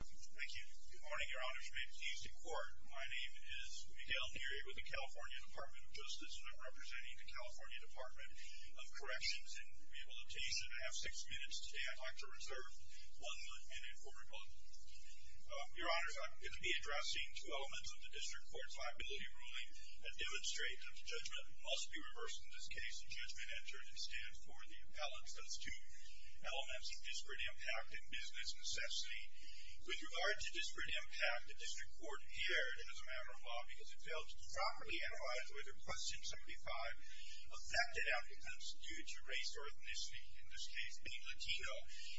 Thank you. Good morning, your honors. You may be seated in court. My name is Miguel Neri with the California Department of Justice, and I'm representing the California Department of Corrections, and you'll be able to taste it. I have six minutes today. I'd like to reserve one minute for rebuttal. Your honors, I'm going to be addressing two elements of the district court's liability ruling that demonstrate that the judgment must be reversed. In this case, the judgment entered instead for the appellants. That's two elements of disparate impact and business necessity. With regard to disparate impact, the district court appeared as a matter of law because it failed to properly analyze whether Question 75 affected applicants due to race or ethnicity, in this case being Latino,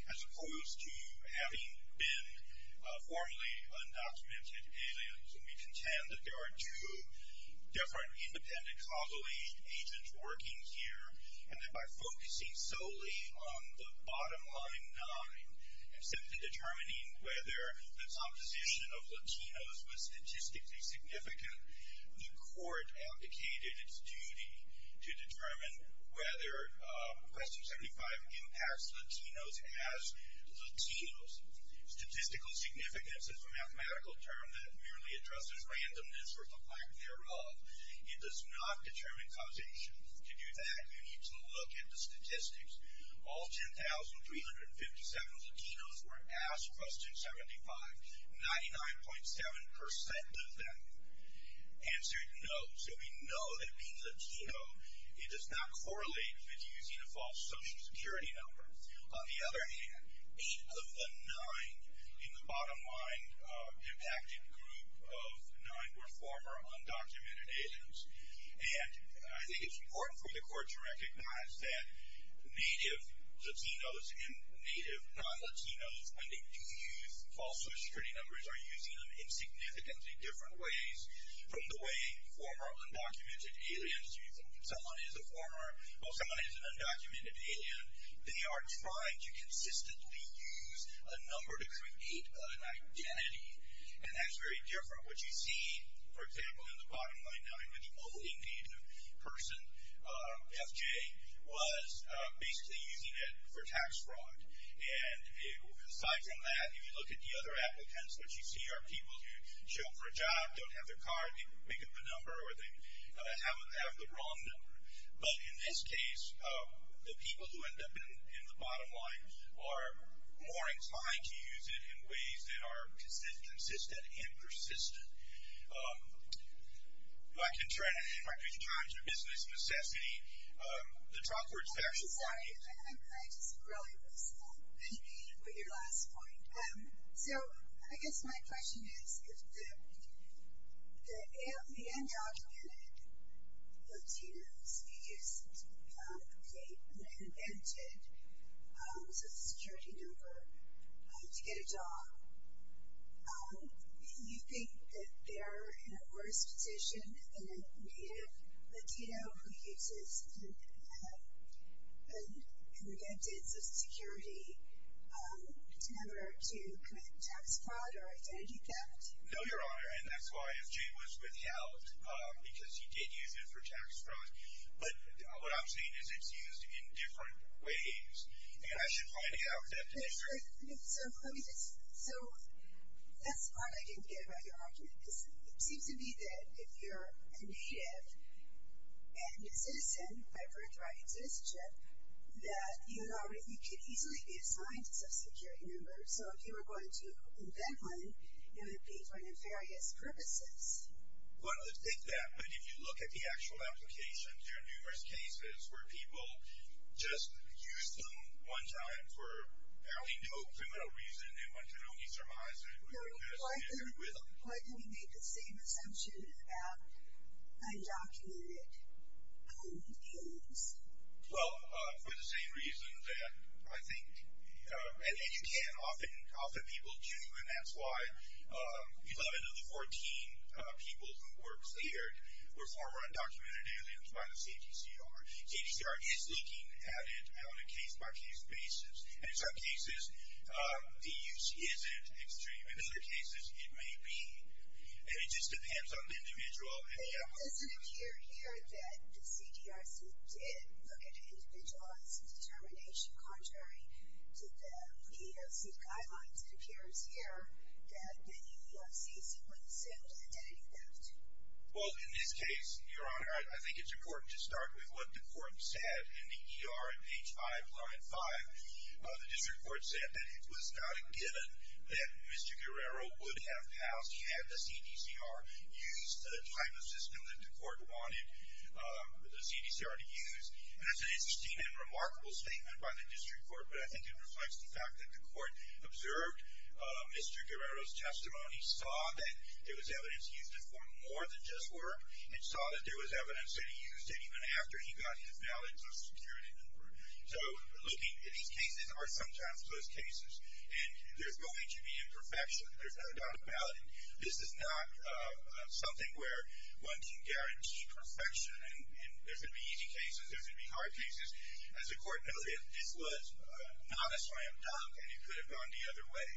as opposed to having been formerly undocumented aliens. So we contend that there are two different independent causal agents working here, and that by focusing solely on the bottom line nine, and simply determining whether this opposition of Latinos was statistically significant, the court abdicated its duty to determine whether Question 75 impacts Latinos as Latinos. Statistical significance is a mathematical term that merely addresses randomness or the lack thereof. It does not determine causation. To do that, you need to look at the statistics. All 10,357 Latinos were asked Question 75. 99.7% of them answered no. So we know that being Latino, it does not correlate with using a false Social Security number. On the other hand, eight of the nine in the bottom line impacted group of nine were former undocumented aliens. And I think it's important for the court to recognize that Native Latinos and Native non-Latinos, when they do use false Social Security numbers, are using them in significantly different ways from the way former undocumented aliens use them. Someone is a former, or someone is an undocumented alien, they are trying to consistently use a number to create an identity. And that's very different. What you see, for example, in the bottom line nine, which only needed a person, FJ, was basically using it for tax fraud. And aside from that, if you look at the other applicants, what you see are people who show up for a job, don't have their card, they make up a number, or they have the wrong number. But in this case, the people who end up in the bottom line are more inclined to use it in ways that are consistent and persistent. If I could turn it into my 15 minutes of business and assess any of the top words that I should point out. Sorry, I just really missed that. I didn't mean to put your last point. So, I guess my question is, if the undocumented Latinos who use a fake and invented Social Security number to get a job, do you think that they're in a worse position than a native Latino who uses an invented Social Security number to commit tax fraud or identity theft? No, Your Honor, and that's why FJ was withheld, because he did use it for tax fraud. But what I'm saying is it's used in different ways, and I should point it out that they're So, that's part I didn't get about your argument. It seems to me that if you're a native and a citizen by birthright and citizenship, that you could easily be assigned a Social Security number. So if you were going to invent one, it would be for nefarious purposes. Well, I don't think that, but if you look at the actual application, there are numerous cases where people just used them one time for apparently no criminal reason and went to an only-surmiser. Why do we make the same assumption about undocumented homeless aliens? Well, for the same reason that I think, and you can, often people do, and that's why 11 of the 14 people who were cleared were former undocumented aliens by the CGCR. CGCR is looking at it on a case-by-case basis, and in some cases, the use isn't extreme. In other cases, it may be, and it just depends on the individual. Well, it doesn't appear here that the CGCR did look at an individualized determination, contrary to the EEOC guidelines. It appears here that the EEOC simply assumed an identity theft. Well, in this case, Your Honor, I think it's important to start with what the court said in the ER at page 5, line 5. The district court said that it was not a given that Mr. Guerrero would have passed had the CGCR used the type of system that the court wanted the CGCR to use. And that's an interesting and remarkable statement by the district court, but I think it reflects the fact that the court observed Mr. Guerrero's testimony, saw that there was evidence he used it for more than just work, and saw that there was evidence that he used it even after he got his valid social security number. So, looking at these cases are sometimes close cases, and there's going to be imperfection. There's no doubt about it. This is not something where one can guarantee perfection, and there could be easy cases. There could be hard cases. As the court noted, this was not a slam dunk, and it could have gone the other way.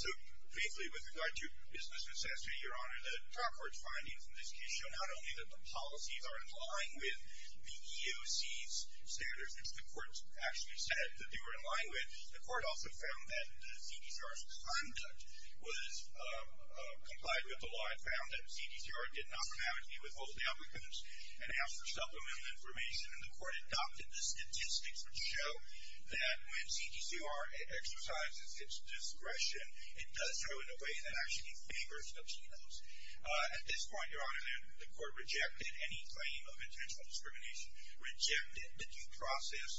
So, faithfully, with regard to business necessity, Your Honor, the trial court's findings in this case show not only that the policies are in line with the EEOC's standards, which the court actually said that they were in line with, the court also found that the CGCR's conduct was complied with. The law had found that the CGCR did not compete with both the applicants and asked for supplemental information, and the court adopted the statistics which show that when CGCR exercises its discretion, it does so in a way that actually favors Latinos. At this point, Your Honor, the court rejected any claim of intentional discrimination, rejected the due process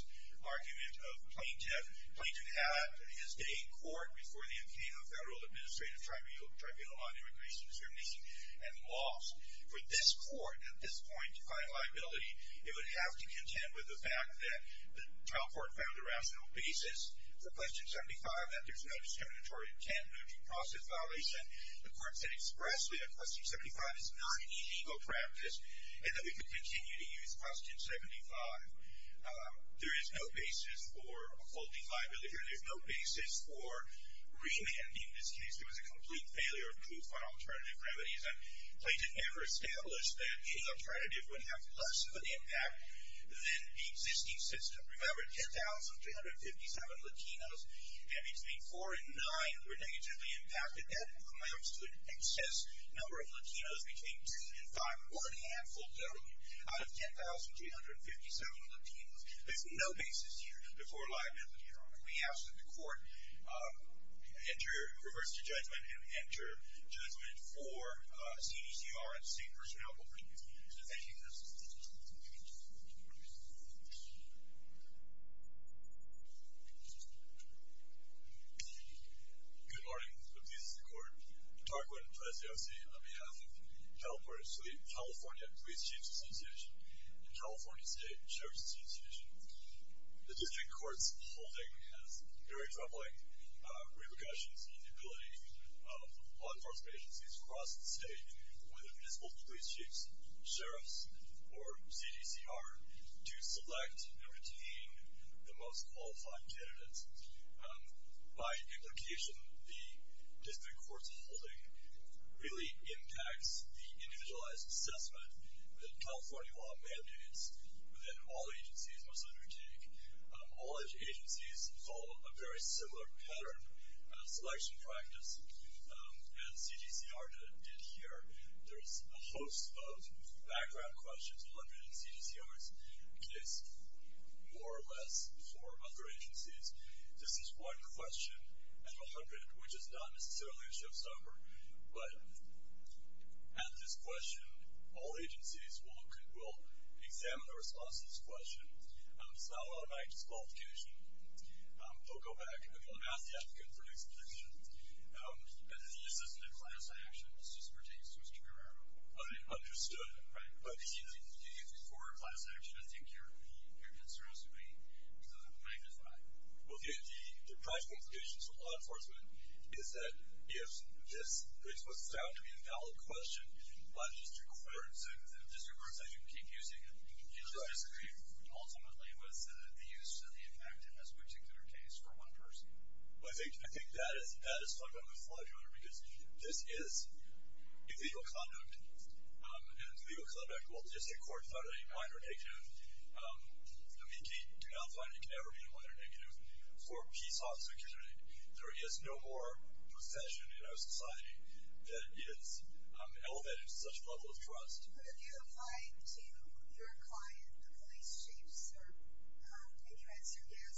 argument of Plaintiff. Plaintiff had his day in court before the incame of federal administrative tribunal on immigration discrimination and laws. For this court, at this point, to find liability, it would have to contend with the fact that the trial court found a rational basis for Question 75, that there's no discriminatory intent moved from process violation. The court said expressly that Question 75 is not an illegal practice and that we could continue to use Question 75. There is no basis for a faulty liability here. There's no basis for remand. In this case, there was a complete failure of proof on alternative remedies, and Plaintiff never established that any alternative would have less of an impact than the existing system. Remember, 10,257 Latinos, and between 4 and 9 were negatively impacted. That amounts to an excess number of Latinos between 2 and 5, or a handful billion out of 10,257 Latinos. There's no basis here before liability, Your Honor. We ask that the court enter, reverse the judgment, and enter judgment for CGCR and State Personnel. Thank you. Thank you. Good morning. This is the court. Tarquin Preciosi on behalf of California Police Chiefs Association and California State Sheriff's Association. The district court's holding has very troubling repercussions in the ability of law enforcement agencies across the state or the municipal police chiefs, sheriffs, or CGCR to select and retain the most qualified candidates. By implication, the district court's holding really impacts the individualized assessment within California law mandates within all agencies, mostly the boutique. All agencies follow a very similar pattern of selection practice as CGCR did here. There's a host of background questions, 100 in CGCR's case, more or less, for other agencies. This is one question out of 100, which is not necessarily a showstopper. But at this question, all agencies will examine the response to this question. It's not one of my qualifications. I'll go back. I'm going to ask the applicant for an explanation. As the assistant to class action, this just pertains to Mr. Guerrero. I understood. Right. But for class action, I think your concerns would be magnified. Well, the practical implications for law enforcement is that if this was found to be a valid question, the district courts, as you keep using it, disagree ultimately with the use and the impact in this particular case for one person. Well, I think that is stuck on the floor, Your Honor, because this is illegal conduct. And legal conduct, while district courts are a minor negative, do not find it can ever be a minor negative. For a peace officer, there is no more profession in our society that is elevated to such a level of trust. But if you apply to your client, the police chiefs, and you answer yes,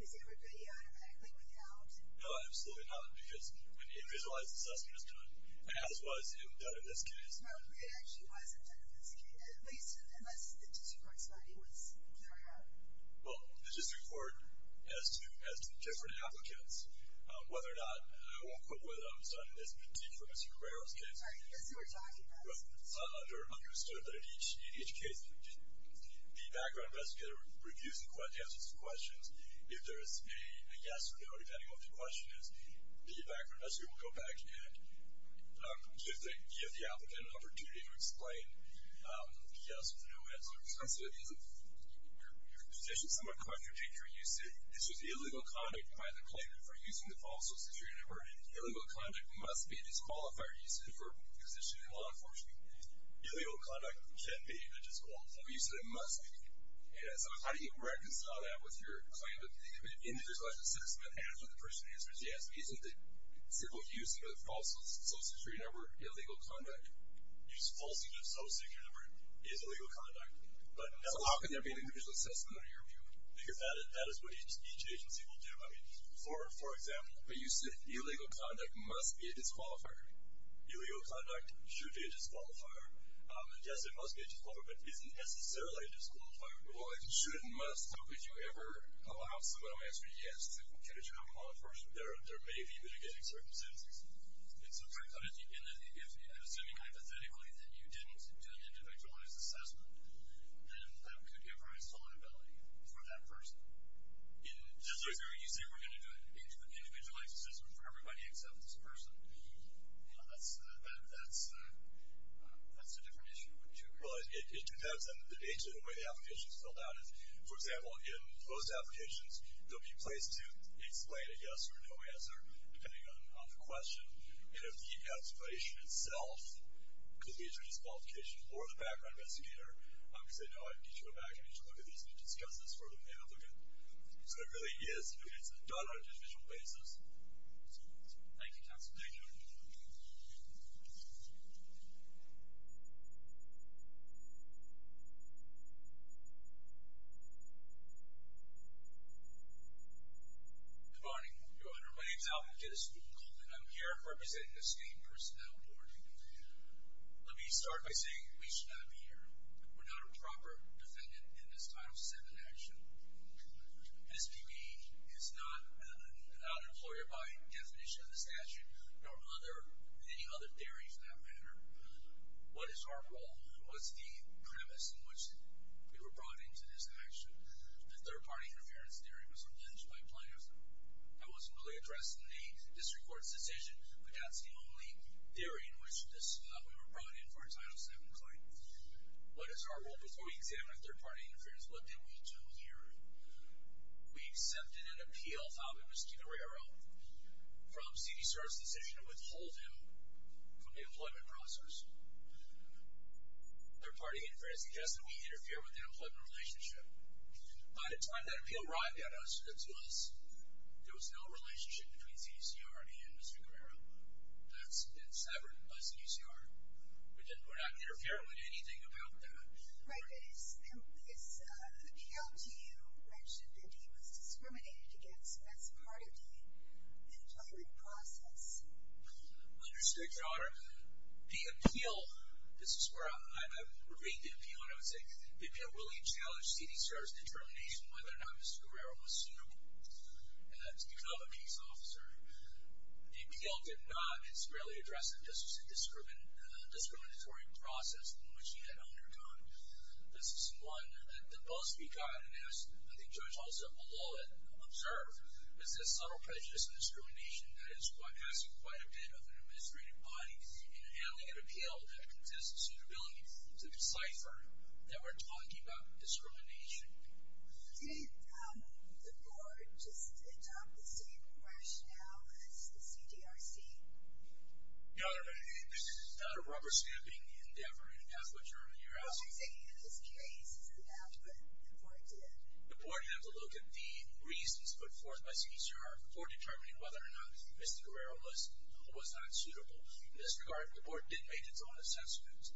is everybody automatically without? No, absolutely not, because when a visualized assessment is done, as was in this case. No, it actually wasn't done in this case, at least unless the district court's study was clear enough. Well, the district court, as to different applicants, whether or not, I won't quote what I've said in this particular Mr. Cabrera's case. I guess you were talking about. They're understood that in each case, the background investigator reviews the answers to questions. If there is a yes or no, depending on what the question is, the background investigator will go back and give the applicant an opportunity to explain yes or no answers. Your position somewhat contradicts your usage. This was illegal conduct by the claimant for using the false social security number. Illegal conduct must be disqualified usage for position in law enforcement. Illegal conduct can be a disqualified use, and it must be. So how do you reconcile that with your claimant? In this visualized assessment, after the person answers yes, isn't the simple use of a false social security number illegal conduct? The use of a false social security number is illegal conduct. So how can there be an individual assessment on your view? Because that is what each agency will do. I mean, for example. But you said illegal conduct must be a disqualifier. Illegal conduct should be a disqualifier. Yes, it must be a disqualifier, but isn't necessarily a disqualifier. Well, it should and must. So if you ever allow someone to answer yes to position in law enforcement, there may be mitigating circumstances. In assuming hypothetically that you didn't do an individualized assessment, then that could give rise to a liability for that person. You say we're going to do an individualized assessment for everybody except this person. That's a different issue. Well, it depends on the nature of the way the application is filled out. For example, in closed applications, there will be a place to explain a yes or no answer depending on the question. And if the application itself could lead to a disqualification or the background investigator could say, no, I need you to go back, I need you to look at this and discuss this further with the applicant. So it really is done on an individual basis. Thank you, Counsel. Thank you. Good morning, Your Honor. My name is Alvin Kittis. I'm here representing the State Personnel Board. Let me start by saying we should not be here. We're not a proper defendant in this Title VII action. This PB is not an out-employer by definition of the statute, nor are there any other theories in that matter. What is our role? What's the premise in which we were brought into this action? The third-party interference theory was alleged by plaintiffs. That wasn't really addressed in the district court's decision, but that's the only theory in which we were brought in for a Title VII claim. What is our role? Before we examine third-party interference, what did we do here? We accepted an appeal filed by Miskeen Herrero from CDCER's decision to withhold him from the employment process. Third-party interference suggests that we interfere with an employment relationship. By the time that appeal arrived to us, there was no relationship between CDCER and Miskeen Herrero. That's been severed by CDCER. We're not interfering with anything about that. Right, but his appeal to you mentioned that he was discriminated against. That's part of the employment process. Understood, Your Honor. The appeal, this is where I would read the appeal when I would say the appeal really challenged CDCER's determination whether or not Miskeen Herrero was suitable to become a peace officer. The appeal did not conspirally address the justice and discriminatory process in which he had undergone. This is one that both speak on, and I think Judge Olson will a little bit observe, is this subtle prejudice and discrimination that is passing quite a bit of an administrative body in handling an appeal that consists of suitability to decipher that we're talking about discrimination. Did the board just adopt the same rationale as the CDRC? Your Honor, this is not a rubber-stamping endeavor, and that's what you're asking. Well, I'm saying in this case that the board did. The board had to look at the reasons put forth by CDCER for determining whether or not Miskeen Herrero was not suitable. In this regard, the board did make its own assessments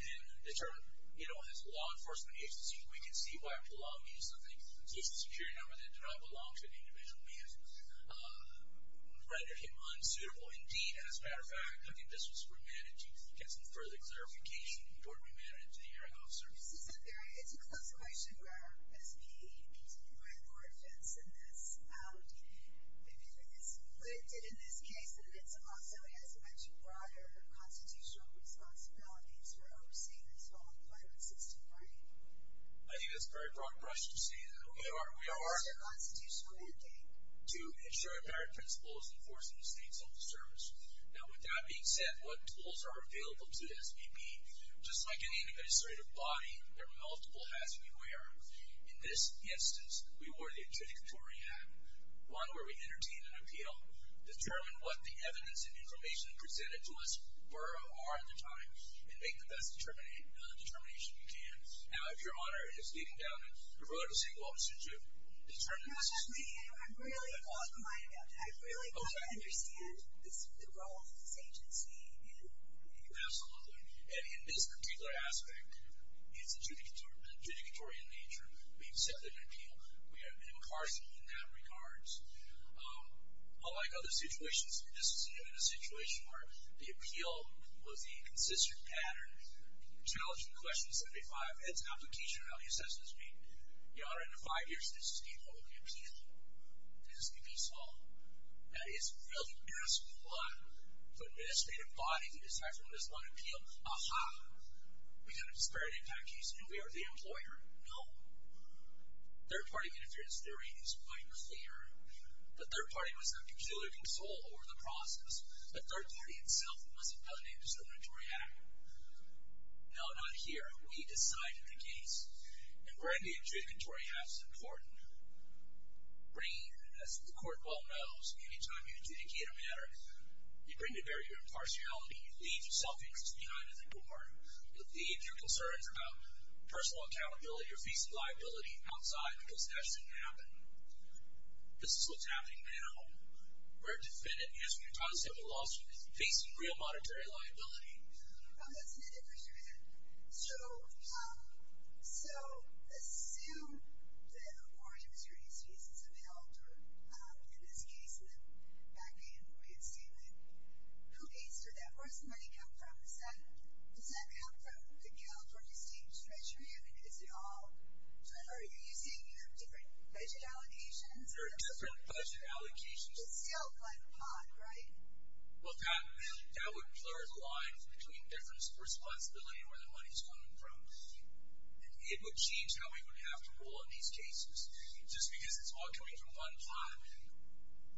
and determined, you know, as a law enforcement agency, we can see why prolonged use of things such as a security number that did not belong to an individual man rendered him unsuitable. Indeed, as a matter of fact, I think this was remanded to get some further clarification before it was remanded to the hearing officer. This is a close relation where, as the board fits in this, what it did in this case, and it also has much broader constitutional responsibilities for overseeing this whole compliance system, right? I think that's a very broad question to say that we are. What is your constitutional mandate? To ensure that our principle is enforcing the state's social service. Now, with that being said, what tools are available to the SBB? Just like any administrative body, there are multiple hats we wear. In this instance, we wore the adjudicatory hat, one where we entertain an appeal, determine what the evidence and information presented to us were or are at the time, and make the best determination you can. Now, if your honor is leading down the road to St. Louis, should you determine this? Not just me. I really want to understand the role of this agency. Absolutely, and in this particular aspect, it's an adjudicatory in nature. We accept an appeal. We are impartial in that regard. Unlike other situations, this is even a situation where the appeal was the consistent pattern, challenging question 75, and it's an application of how the assessment is made. Your honor, in the five years of this, this is the only appeal the SBB saw. That is really asked a lot. For an administrative body to decide from this one appeal, aha, we got a disparate impact case and we are the employer. No. Third-party interference theory is quite clear. The third party must have peculiar control over the process. The third party itself must have done it, so the adjudicatory hat. No, not here. We decided the case. And where the adjudicatory hat is important, as the court well knows, any time you adjudicate a matter, you bring the barrier of impartiality. You leave your self-interest behind as a court. You leave your concerns about personal accountability or facing liability outside because that shouldn't happen. This is what's happening now. Where a defendant is when you try to settle a lawsuit is facing real monetary liability. That's an adjudicatory hat. So assume that a more adjudicatory case has been held, in this case, the bank employee in Salem. Who pays for that? Where does the money come from? Does that come from the guilt or the state's treasury? I mean, is it all? Are you seeing different budget allocations? There are different budget allocations. It's still Glen Pond, right? Well, that would blur the lines between difference of responsibility and where the money is coming from. And it would change how we would have to rule on these cases. Just because it's all coming from Glen Pond,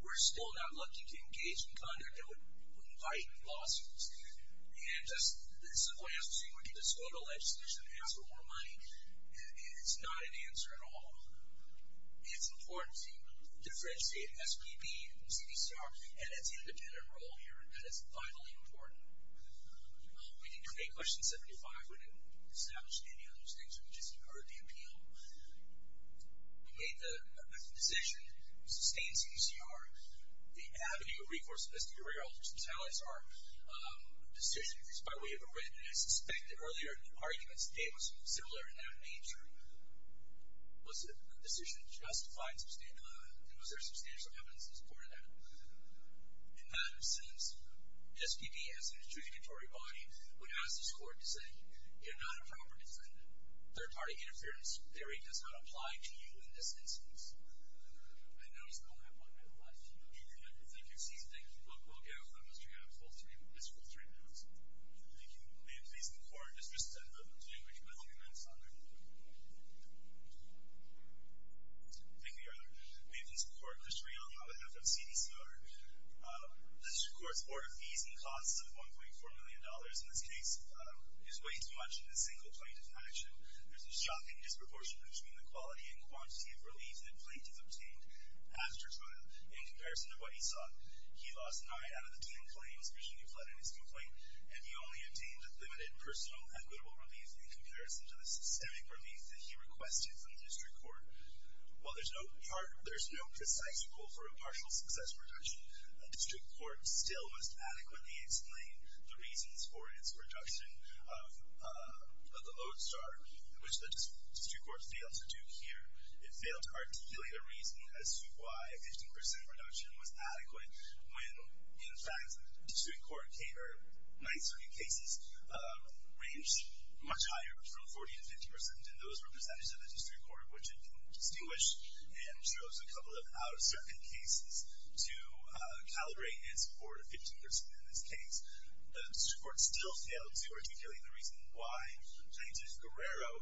we're still not lucky to engage in conduct that would invite lawsuits. And this is why I'm saying we can just go to legislation and ask for more money. It's not an answer at all. It's important to differentiate SBB and CDCR, and it's an independent role here, and that is vitally important. We didn't create Question 75. We didn't establish any of those things. We just heard the appeal. We made the decision to sustain CDCR, the Avenue of Recourse of Investigatory Elders, which is how it's our decision. It's by way of a writ. And I suspect that earlier in the arguments, the data was similar in that nature. Was the decision justified and was there substantial evidence in support of that? In that sense, SBB, as an adjudicatory body, would ask this Court to say, you're not a proper defendant. Third-party interference theory does not apply to you in this instance. I know it's the only one that applies to you. Thank you. Thank you, Susan. Thank you. We'll go for Mr. Hanna's full three minutes. Thank you. May it please the Court, Mr. Senator, to do which I will commence on their behalf. Thank you, Your Honor. May it please the Court, Mr. Hanna, on behalf of CDCR. The District Court's order fees and costs of $1.4 million in this case is way too much in a single plaintiff's action. There's a shocking disproportion between the quality and quantity of relief that plaintiffs obtained after trial in comparison to what he sought. He lost nine out of the ten claims reaching a flood in his complaint, and he only obtained limited personal equitable relief in comparison to the systemic relief that he requested from the District Court. While there's no precise goal for a partial success reduction, the District Court still must adequately explain the reasons for its reduction of the Lodestar, which the District Court failed to do here. It failed to articulate a reason as to why a 15% reduction was adequate when, in fact, the District Court might in certain cases range much higher from 40% to 50%, and those were percentages of the District Court which it distinguished and chose a couple of out-of-circuit cases to calibrate in support of 15% in this case. The District Court still failed to articulate the reason why Plaintiff Guerrero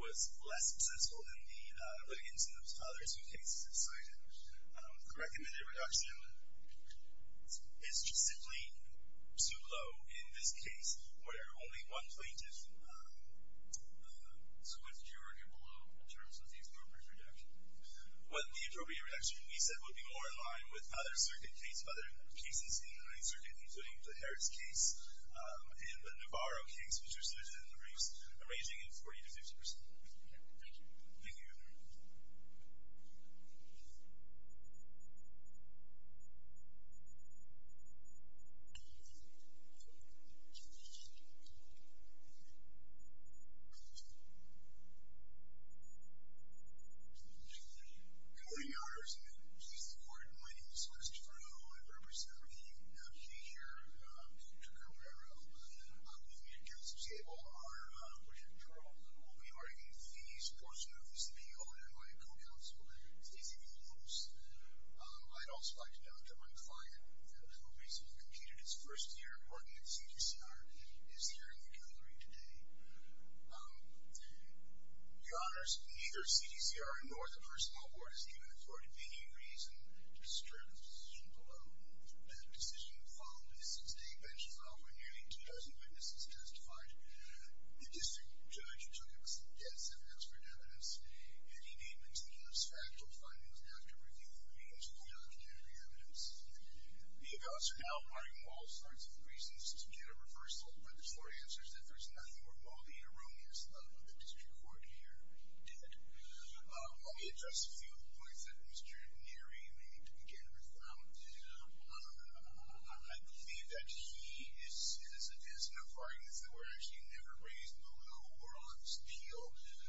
was less successful than the other two cases cited. The recommended reduction is just simply too low in this case where only one plaintiff... So what did you argue below in terms of the appropriate reduction? Well, the appropriate reduction, we said, would be more in line with other cases in the 9th Circuit, including the Harris case and the Navarro case, which was listed in the briefs, ranging in 40% to 50%. Okay. Thank you. Thank you. Thank you. Good morning, Your Honors, and please support. My name is Chris DeFranco. I represent the community here in the District Court of Guerrero. With me at the council table are Richard Charles, who will be arguing the support suit of this appeal, and my co-counsel, Stacy Villalobos. I'd also like to note that my client, who recently completed his first year working at CDCR, is here in the gallery today. Your Honors, neither CDCR nor the Personnel Board has given authority to any reason to disprove the decision below. The decision followed a six-day bench trial where nearly 2,000 witnesses testified. The district judge took extensive expert evidence, and he made meticulous factual findings after reviewing the means of the documentary evidence. The evaluates are now requiring all sorts of reasons to get a reversal, but the short answer is that there's nothing more malignant or erroneous about what the district court here did. Let me address a few of the points that Mr. Neri may need to begin with. I believe that he is a citizen of Florida, so we're actually never raised in the legal world on this appeal.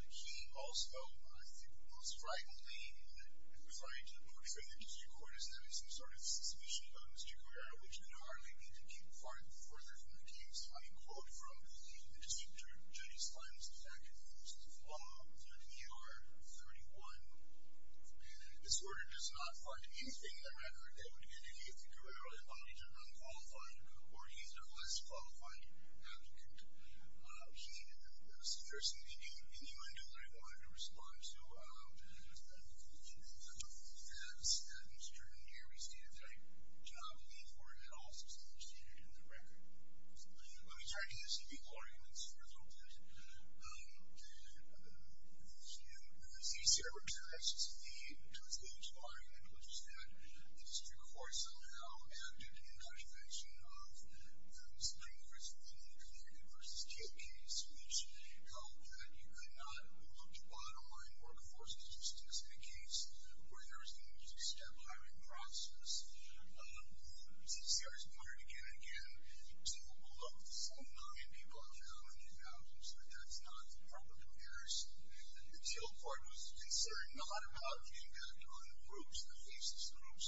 He also, I think most frankly, I'm sorry, to the point of saying that the district court is having some sort of suspicion about Mr. Guerrero, which I hardly need to keep farther and further from the case. I quote from the district judge's findings in the fact that he was in Florida with an NER of 31, and the disorder does not find anything in the record that would indicate that Mr. Guerrero embodied an unqualified or either less qualified applicant. He was the person in the U.N. gallery that the district court wanted to respond to, and I think that Mr. Neri's data type, which I don't believe were at all substantiated in the record. Let me turn to the civil arguments for a little bit. As you see here in the text, the first page of our argument was that the district court somehow acted in conjugation of the Supreme Court's in the Guerrero v. Till case, which held that you could not look to bottom line workforce statistics in a case where there was going to be a step hiring process. The C.C.R. has pointed again and again, typical of the same nine people I've found in 2000, so that's not proper comparison. The Till court was concerned not about the impact on the groups, the faceless groups,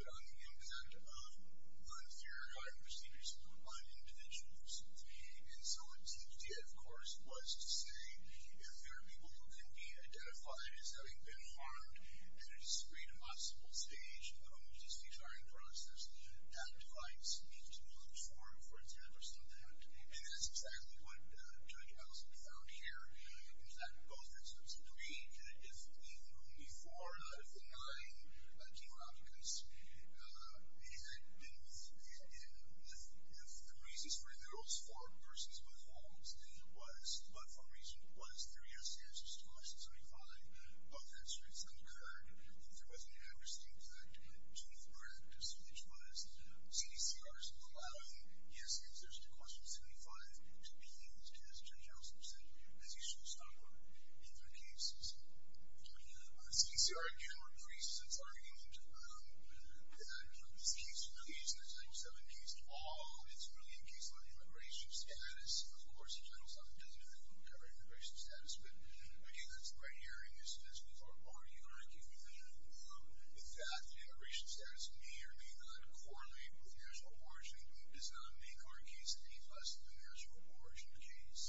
but on the impact of unfair hiring procedures on individuals. And so what Till did, of course, was to say if there are people who can be identified as having been harmed at a discreet and possible stage of the homeless dispute hiring process, that device needs to be looked for, for example, so that... And that's exactly what Judge Allison found here. In fact, it goes back to Episode 3. If the only four out of the nine demographics had been with... If the reasons for those four persons with homes was...but for a reason, was there yes answers to question 75, both answers had occurred, if there was an adverse impact to the practice, which was C.C.R.'s allowing yes answers to question 75 to be used, as Judge Allison said, as a showstopper in their cases. C.C.R. again reprises its argument that from this case to the case, this 97 case to all, it's really a case on immigration status. Of course, in general, something doesn't have to do with immigration status, but again, that's the right hearing. As we've already argued, the fact that immigration status may or may not correlate with marital origin does not make our case any less of a marital origin case.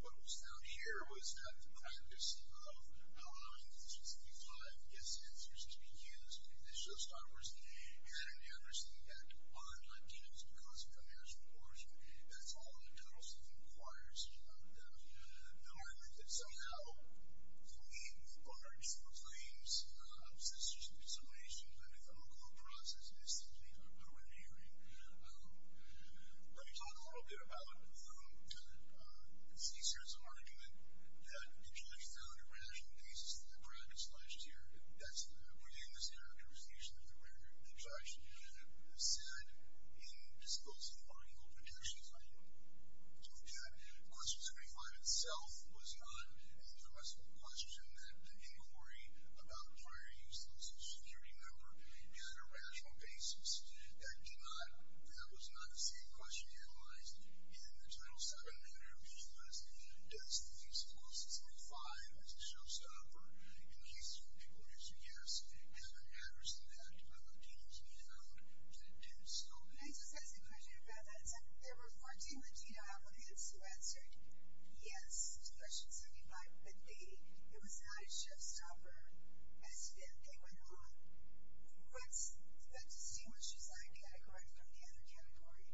What was found here was that the practice of allowing 75 yes answers to be used as showstoppers and an adverse impact on Latinos because of their marriage, of course, that's all in the total self-inquiry. The argument that somehow, for me, large claims of C.C.R.'s dissemination of the Nicaraguan process is simply overbearing. Let me talk a little bit about C.C.R.'s argument that the judge found a rational basis to the practice alleged here. That's within this characterization that the judge said in disclosing the article of intention. So that question 75 itself was not a permissible question that the inquiry about prior use of a Social Security member had a rational basis. That was not the same question analyzed in the Title VII manner of the U.S. and does the case close to 75 as a showstopper in cases where people would answer yes and an adverse impact on Latinos if you found that it did so. Can I just ask a question about that? There were 14 Latina applicants who answered yes to question 75, but they, it was not a showstopper. As to them, they went on. What's the C.C.R.'s category from the other category?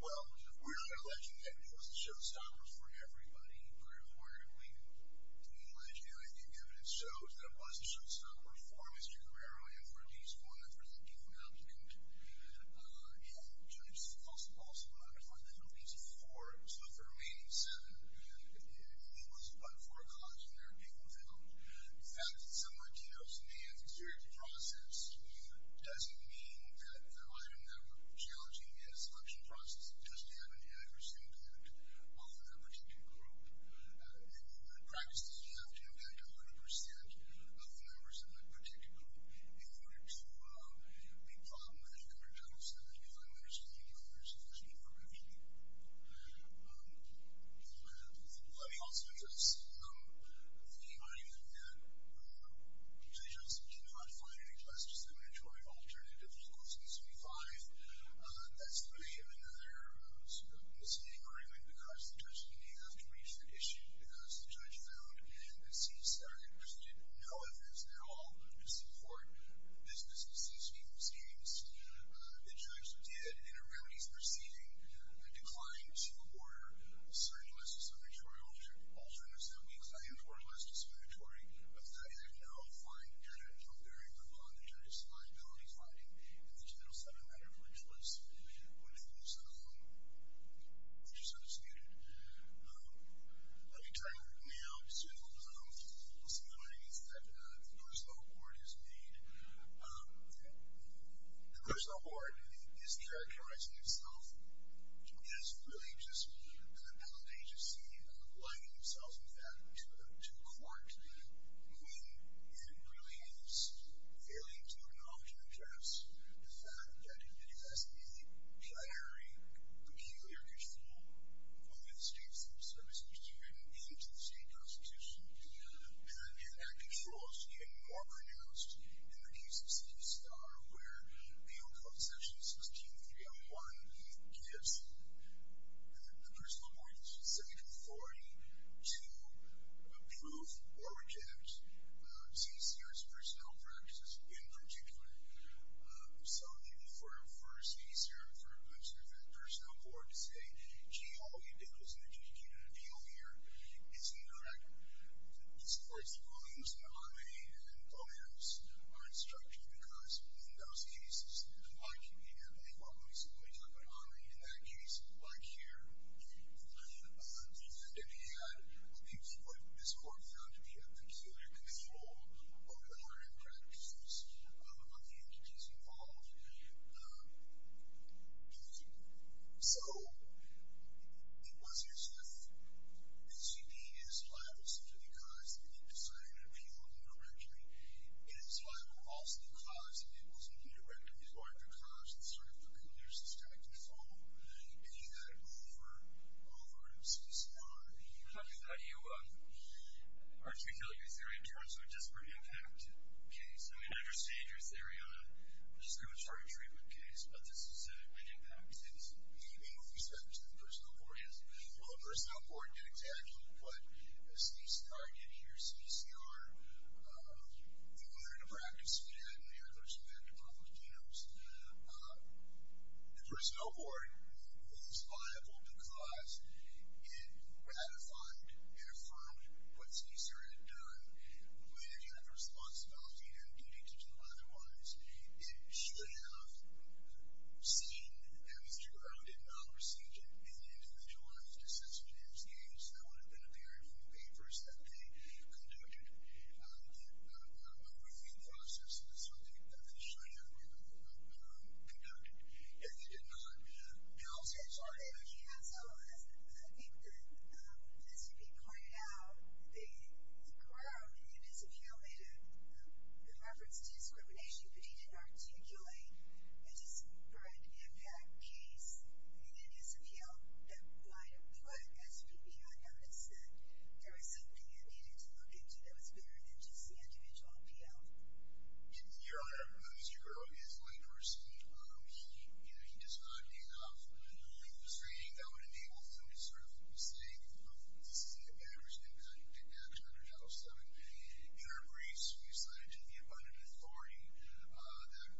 Well, we're not alleging that it was a showstopper for everybody. We're reportedly alleging, and the evidence shows, that it was a showstopper for Mr. Guerrero and for a case form that's resenting an applicant. And the judge also found that there were at least four, so for the remaining seven, it was but for a cause and there were people found. The fact that some Latinos may have exerted the process doesn't mean that the item that we're challenging is a selection process that doesn't have an adverse impact off of that particular group. In practice, you have to impact 100% of the members of that particular group in order to be a problem with a counter-judge. So that gives them an understanding that there's a solution in front of you. Let me also address the argument that judges cannot find any less discriminatory alternative to question 75. That's three of another sort of misleading argument because the judge didn't have to reach the issue because the judge found that CSR had presented no evidence at all to support this business of cease and desist. The judge did, in a remedies proceeding, a decline to the border, a certain less discriminatory alternative that would be claimed for less discriminatory, but the judge had no find data from there, and the judge's liability finding in the 2007 matter for a choice was just undisputed. Let me turn now to a little summary that the Personnel Board has made. The Personnel Board is characterizing itself as really just an appellate agency allowing themselves, in fact, to court when it really is failing to acknowledge and address the fact that it has a very peculiar control over the state's services, even into the state constitution, and that control is even more pronounced in the cases of the SCAR, where Leo Concessions, his team 301, gives the Personal Board the specific authority to approve or reject CSR's personnel practices, in particular. So for a CSR, for a Personnel Board to say, gee, all you did was initiate an appeal here, it's incorrect. It supports the volumes that OMRI and OMERS are instructed, because in those cases, like here, and I recently talked about OMRI, in that case, like here, it had what this court found to be a peculiar control over OMRI practices, of the entities involved. So it was as if HCP, as a liability, was due to the cause that they decided to appeal indirectly, and it's liability was also the cause that it was indirectly going to cause the sort of peculiar systematic control that you had over MCSR. How do you argue, or should we tell you a theory, in terms of a disparate impact case? I mean, I understand your theory on a discriminatory treatment case, but this is a great impact case. What do you mean with respect to the Personal Board? Well, the Personal Board did exactly what a CSR did here, CSR included a practice we had in there, there was a plan to approve those genomes. The Personal Board was liable because it ratified and affirmed what CSR had done, when it had the responsibility and duty to do otherwise. It should have seen that MCSR did not receive an individualized assessment in its case. That would have been apparent from the papers that they conducted, a review process of the subject that they should have conducted. If they did not, they also should have. So, as I think the SPP pointed out, the group in the disappeal made a reference to discrimination, but he didn't articulate a disparate impact case in the disappeal. Why did the SPP not notice that there was something they needed to look into that was bigger than just the individual appeal? Your Honor, Mr. Groh is one person and he does not have enough restraining that would enable him to sort of say, this is the average income that you can take action under Title VII. In our briefs, we assign it to the abundant authority that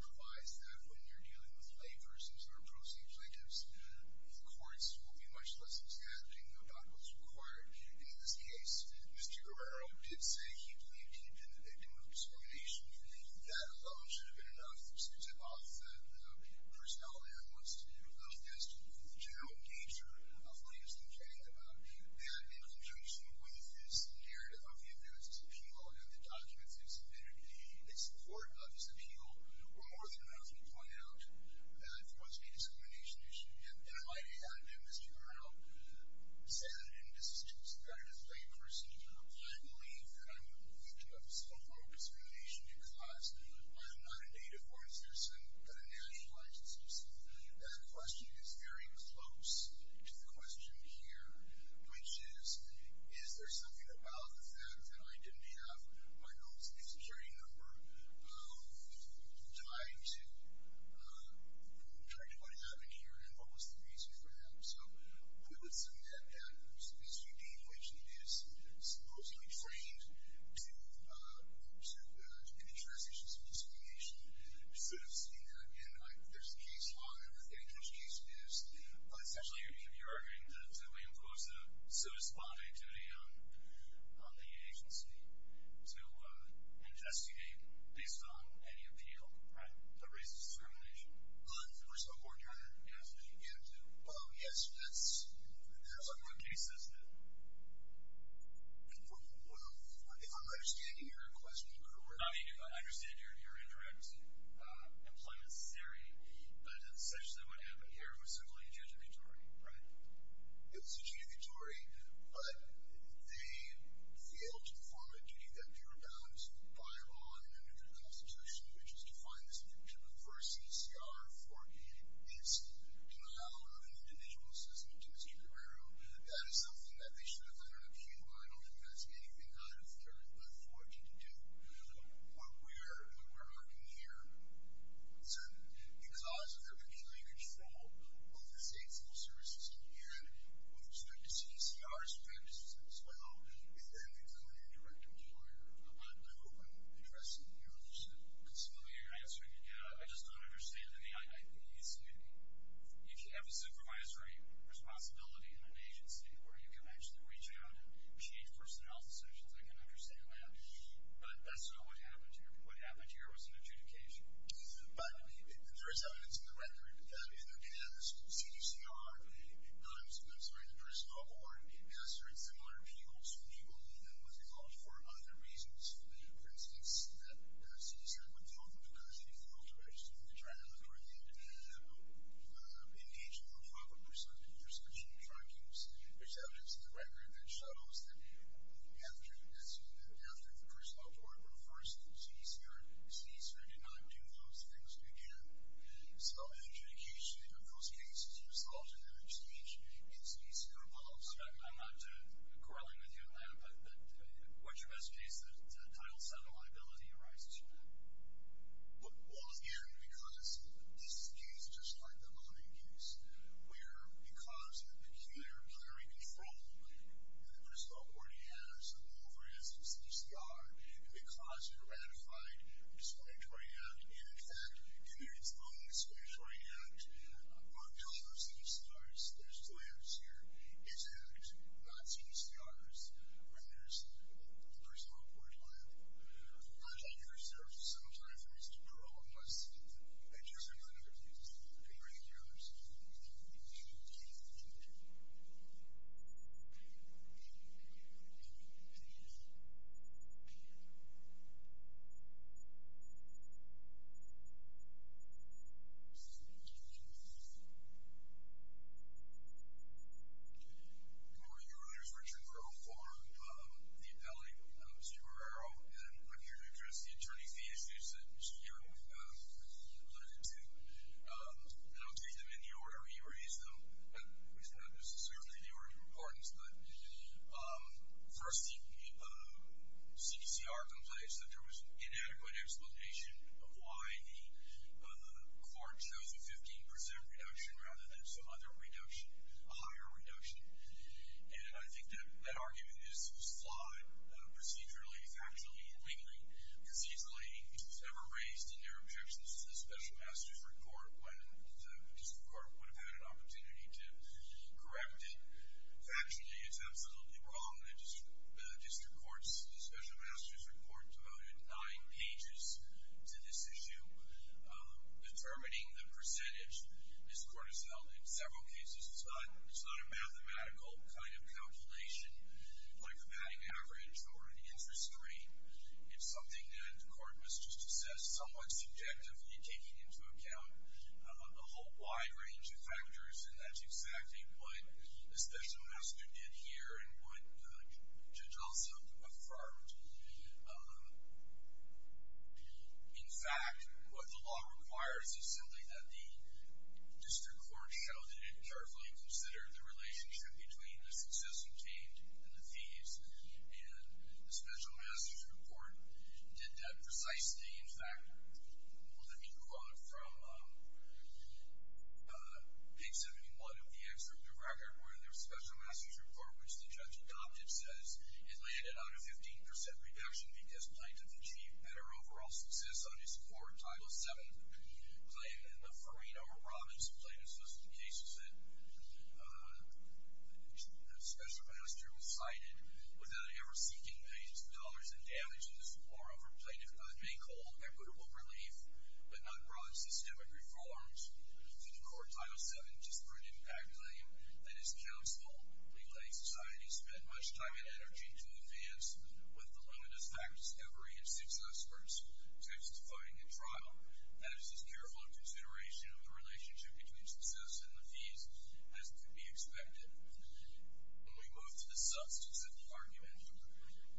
provides that when you're dealing with laypersons or proceed plaintiffs, the courts will be much less exaggerating about what's required. And in this case, Mr. Guerrero did say he believed he had been the victim of discrimination. That alone should have been enough to tip off the personality that wants to do the best with the general nature of what he was complaining about. That in conjunction with his narrative of the appearance of disappeal and the documents that submitted in support of his appeal were more than enough to point out that there was a discrimination issue. And in light of that, Mr. Guerrero said, and this is very displaying for a senator, I believe that I'm the victim of some form of discrimination because I am not a native born citizen but a nationalized citizen. And the question is very close to the question here, which is, is there something about the fact that I didn't have my home state security number tied to what happened here and what was the reason for that? So, I would submit that there's an issue in which the citizen is supposedly trained to make transactions of discrimination. We've sort of seen that in, like, there's a case law in which any case is essentially you're arguing that we impose a so-to-spot activity on the agency to investigate based on any appeal, right? The race discrimination. There was a court hearing in which they began to, oh, yes, that's, that's a court case, isn't it? Well, if I'm understanding your question correctly, I mean, I understand your indirect employment theory, but essentially what happened here was simply a judiciary, right? It was a judiciary, but they failed to perform a duty that purebounds by law and under the Constitution, which is to find the subject of the first CCR for any incident in the hall of an individual's, as in the case of Guerrero. That is something that they should have learned up here, but I don't think that's anything out of their left fortune to do. What we're arguing here is that because of their peculiar control of the state's law services and with respect to CCR's practices as well, it then became an indirect employer. I don't know what I'm addressing here. I'm just... I'm assuming you're answering, yeah, I just don't understand. I mean, I think you said if you have a supervisory responsibility in an agency where you can actually reach out and change personnel's decisions, I can understand that, but that's not what happened here. What happened here was an adjudication. But there is evidence in the record that in the case of the CDCR, I'm sorry, the personnel board has very similar vehicles to the one that was involved for other reasons. For instance, that CDCR would tell them because they failed to register and they tried to look for the engagement of 500% in your specialty trackings. There's evidence in the record that shows that after the personnel board refers to the CDCR, the CDCR did not do those things again. So adjudication of those cases was solved in that exchange in the CDCR policy. I'm not quarreling with you on that, but what's your best case that Title VII liability arises from that? Well, again, because this case, just like the voting case, where because of the peculiar clearing control that the personnel board has over it as a CDCR, and because it ratified a discriminatory act, and in fact, in its own discriminatory act, on top of CDCR's, there's two layers here, its act, not CDCR's, when there's the personnel board liability. The project reserves some time for me to grow and I just want to thank you. Thank you. Thank you. Good morning. Your Honor, this is Richard Crowe for the appellate, Mr. Guerrero, and I'm here to address the attorney fee issues that Mr. Guerrero alluded to, and I'll take them in the order he raised them. It's not necessarily the order of importance, but first, CDCR complains that there was an inadequate explanation of why the court chose a 15% reduction rather than some other reduction, a higher reduction, and I think that argument is flawed, procedurally, factually, legally, procedurally, it was never raised in their objections to the special master's report when the district court would have had an opportunity to correct it. Factually, it's absolutely wrong that the district court's special master's report devoted nine pages to this issue determining the percentage this court has held. In several cases, it's not a mathematical kind of calculation like a padding average or an interest rate. It's something that the court must assess somewhat subjectively taking into account the whole wide range of factors and that's exactly what the special master did here and what Judge Alsop affirmed. In fact, what the law requires is simply that the district court show that it carefully considered the relationship between the success obtained and the fees and the special master's report did that precisely. In fact, let me quote from page 71 of the excerpt of the record where the special master's report which the judge adopted says it landed on a 15% reduction because plaintiff achieved better overall success on his court. Title VII claim in the Farino province plaintiff's case said the special master was cited without ever seeking millions of dollars in damages or over plaintiff could make hold equitable relief but not brought systemic reforms to the court. Title VII disparate impact claim that his counsel relayed society spent much time and energy to advance with the limit of fact discovery and success versus justifying a trial that is as careful a consideration of the relationship between success and the fees as could be expected. When we move to the substance of the argument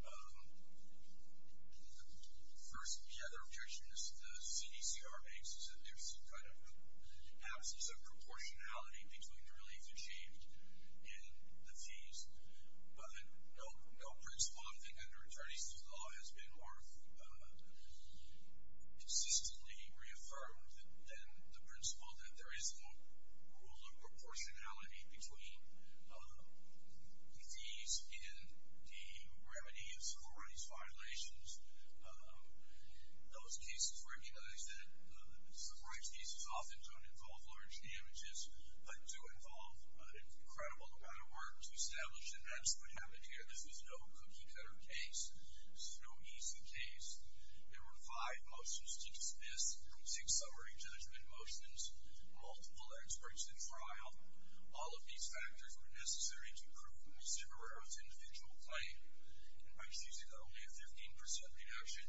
the first the other objection is the CDCR makes is that there's kind of absence of proportionality between the relief achieved and the fees but no principle I think under attorneys to the law has been more consistently reaffirmed than the principle that there is no rule of proportionality between the fees and the remedy of civil rights violations those cases recognize that civil rights cases often don't involve large damages but do involve an incredible amount of work to establish and that's what happened here this was no cookie cutter case no easy case there were five motions to dismiss six summary judgment motions multiple experts in trial all of these factors were necessary to ensure that there was individual claim and by choosing only a 15% reduction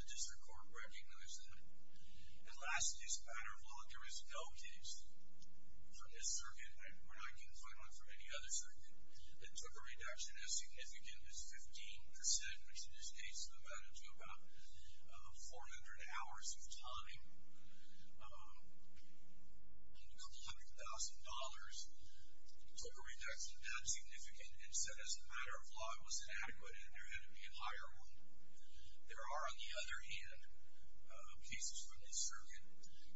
the district court recognized that and last this matter of law there is no case from this circuit we're not confined for any other circuit that took a reduction as significant as 15% which in this case amounted to about 400 hours of time and a couple hundred thousand dollars took a reduction that significant and said as a matter of law it was inadequate and there had to be a higher one there are on the other hand cases from this circuit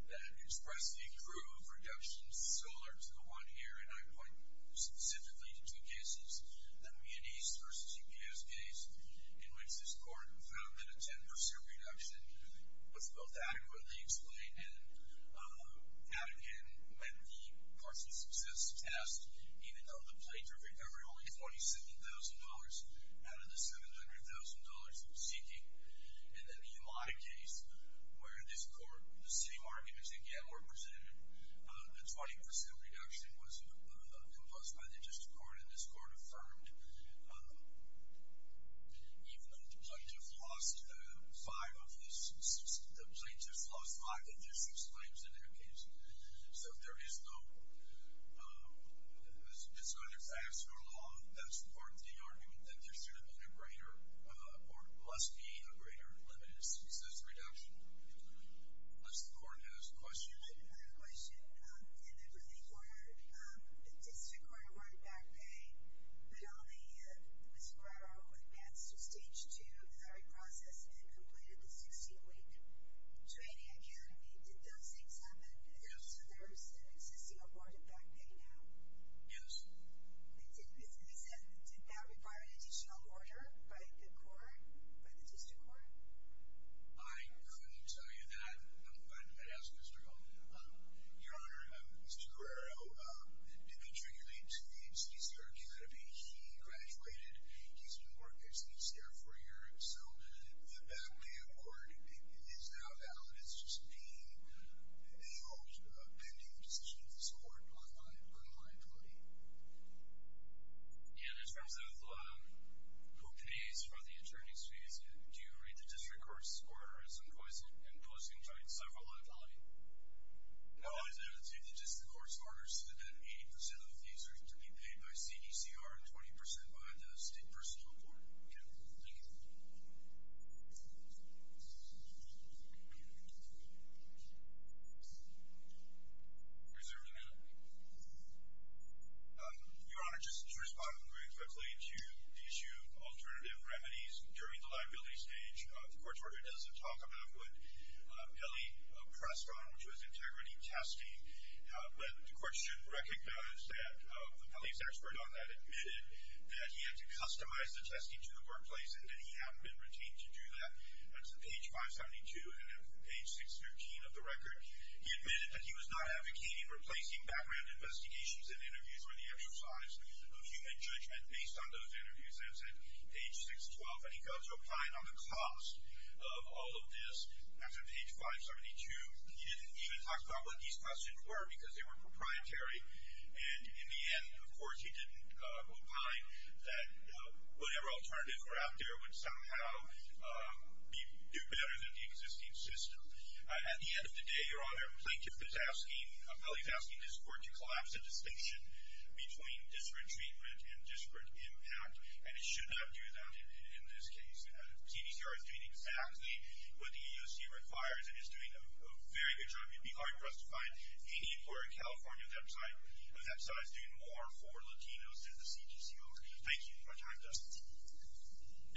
that express the accrue of reductions similar to the one here and I point specifically to two cases the Mianese versus GPS case and I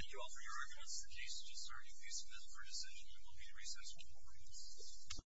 call for your recognition of this case and I will be in recess for four minutes.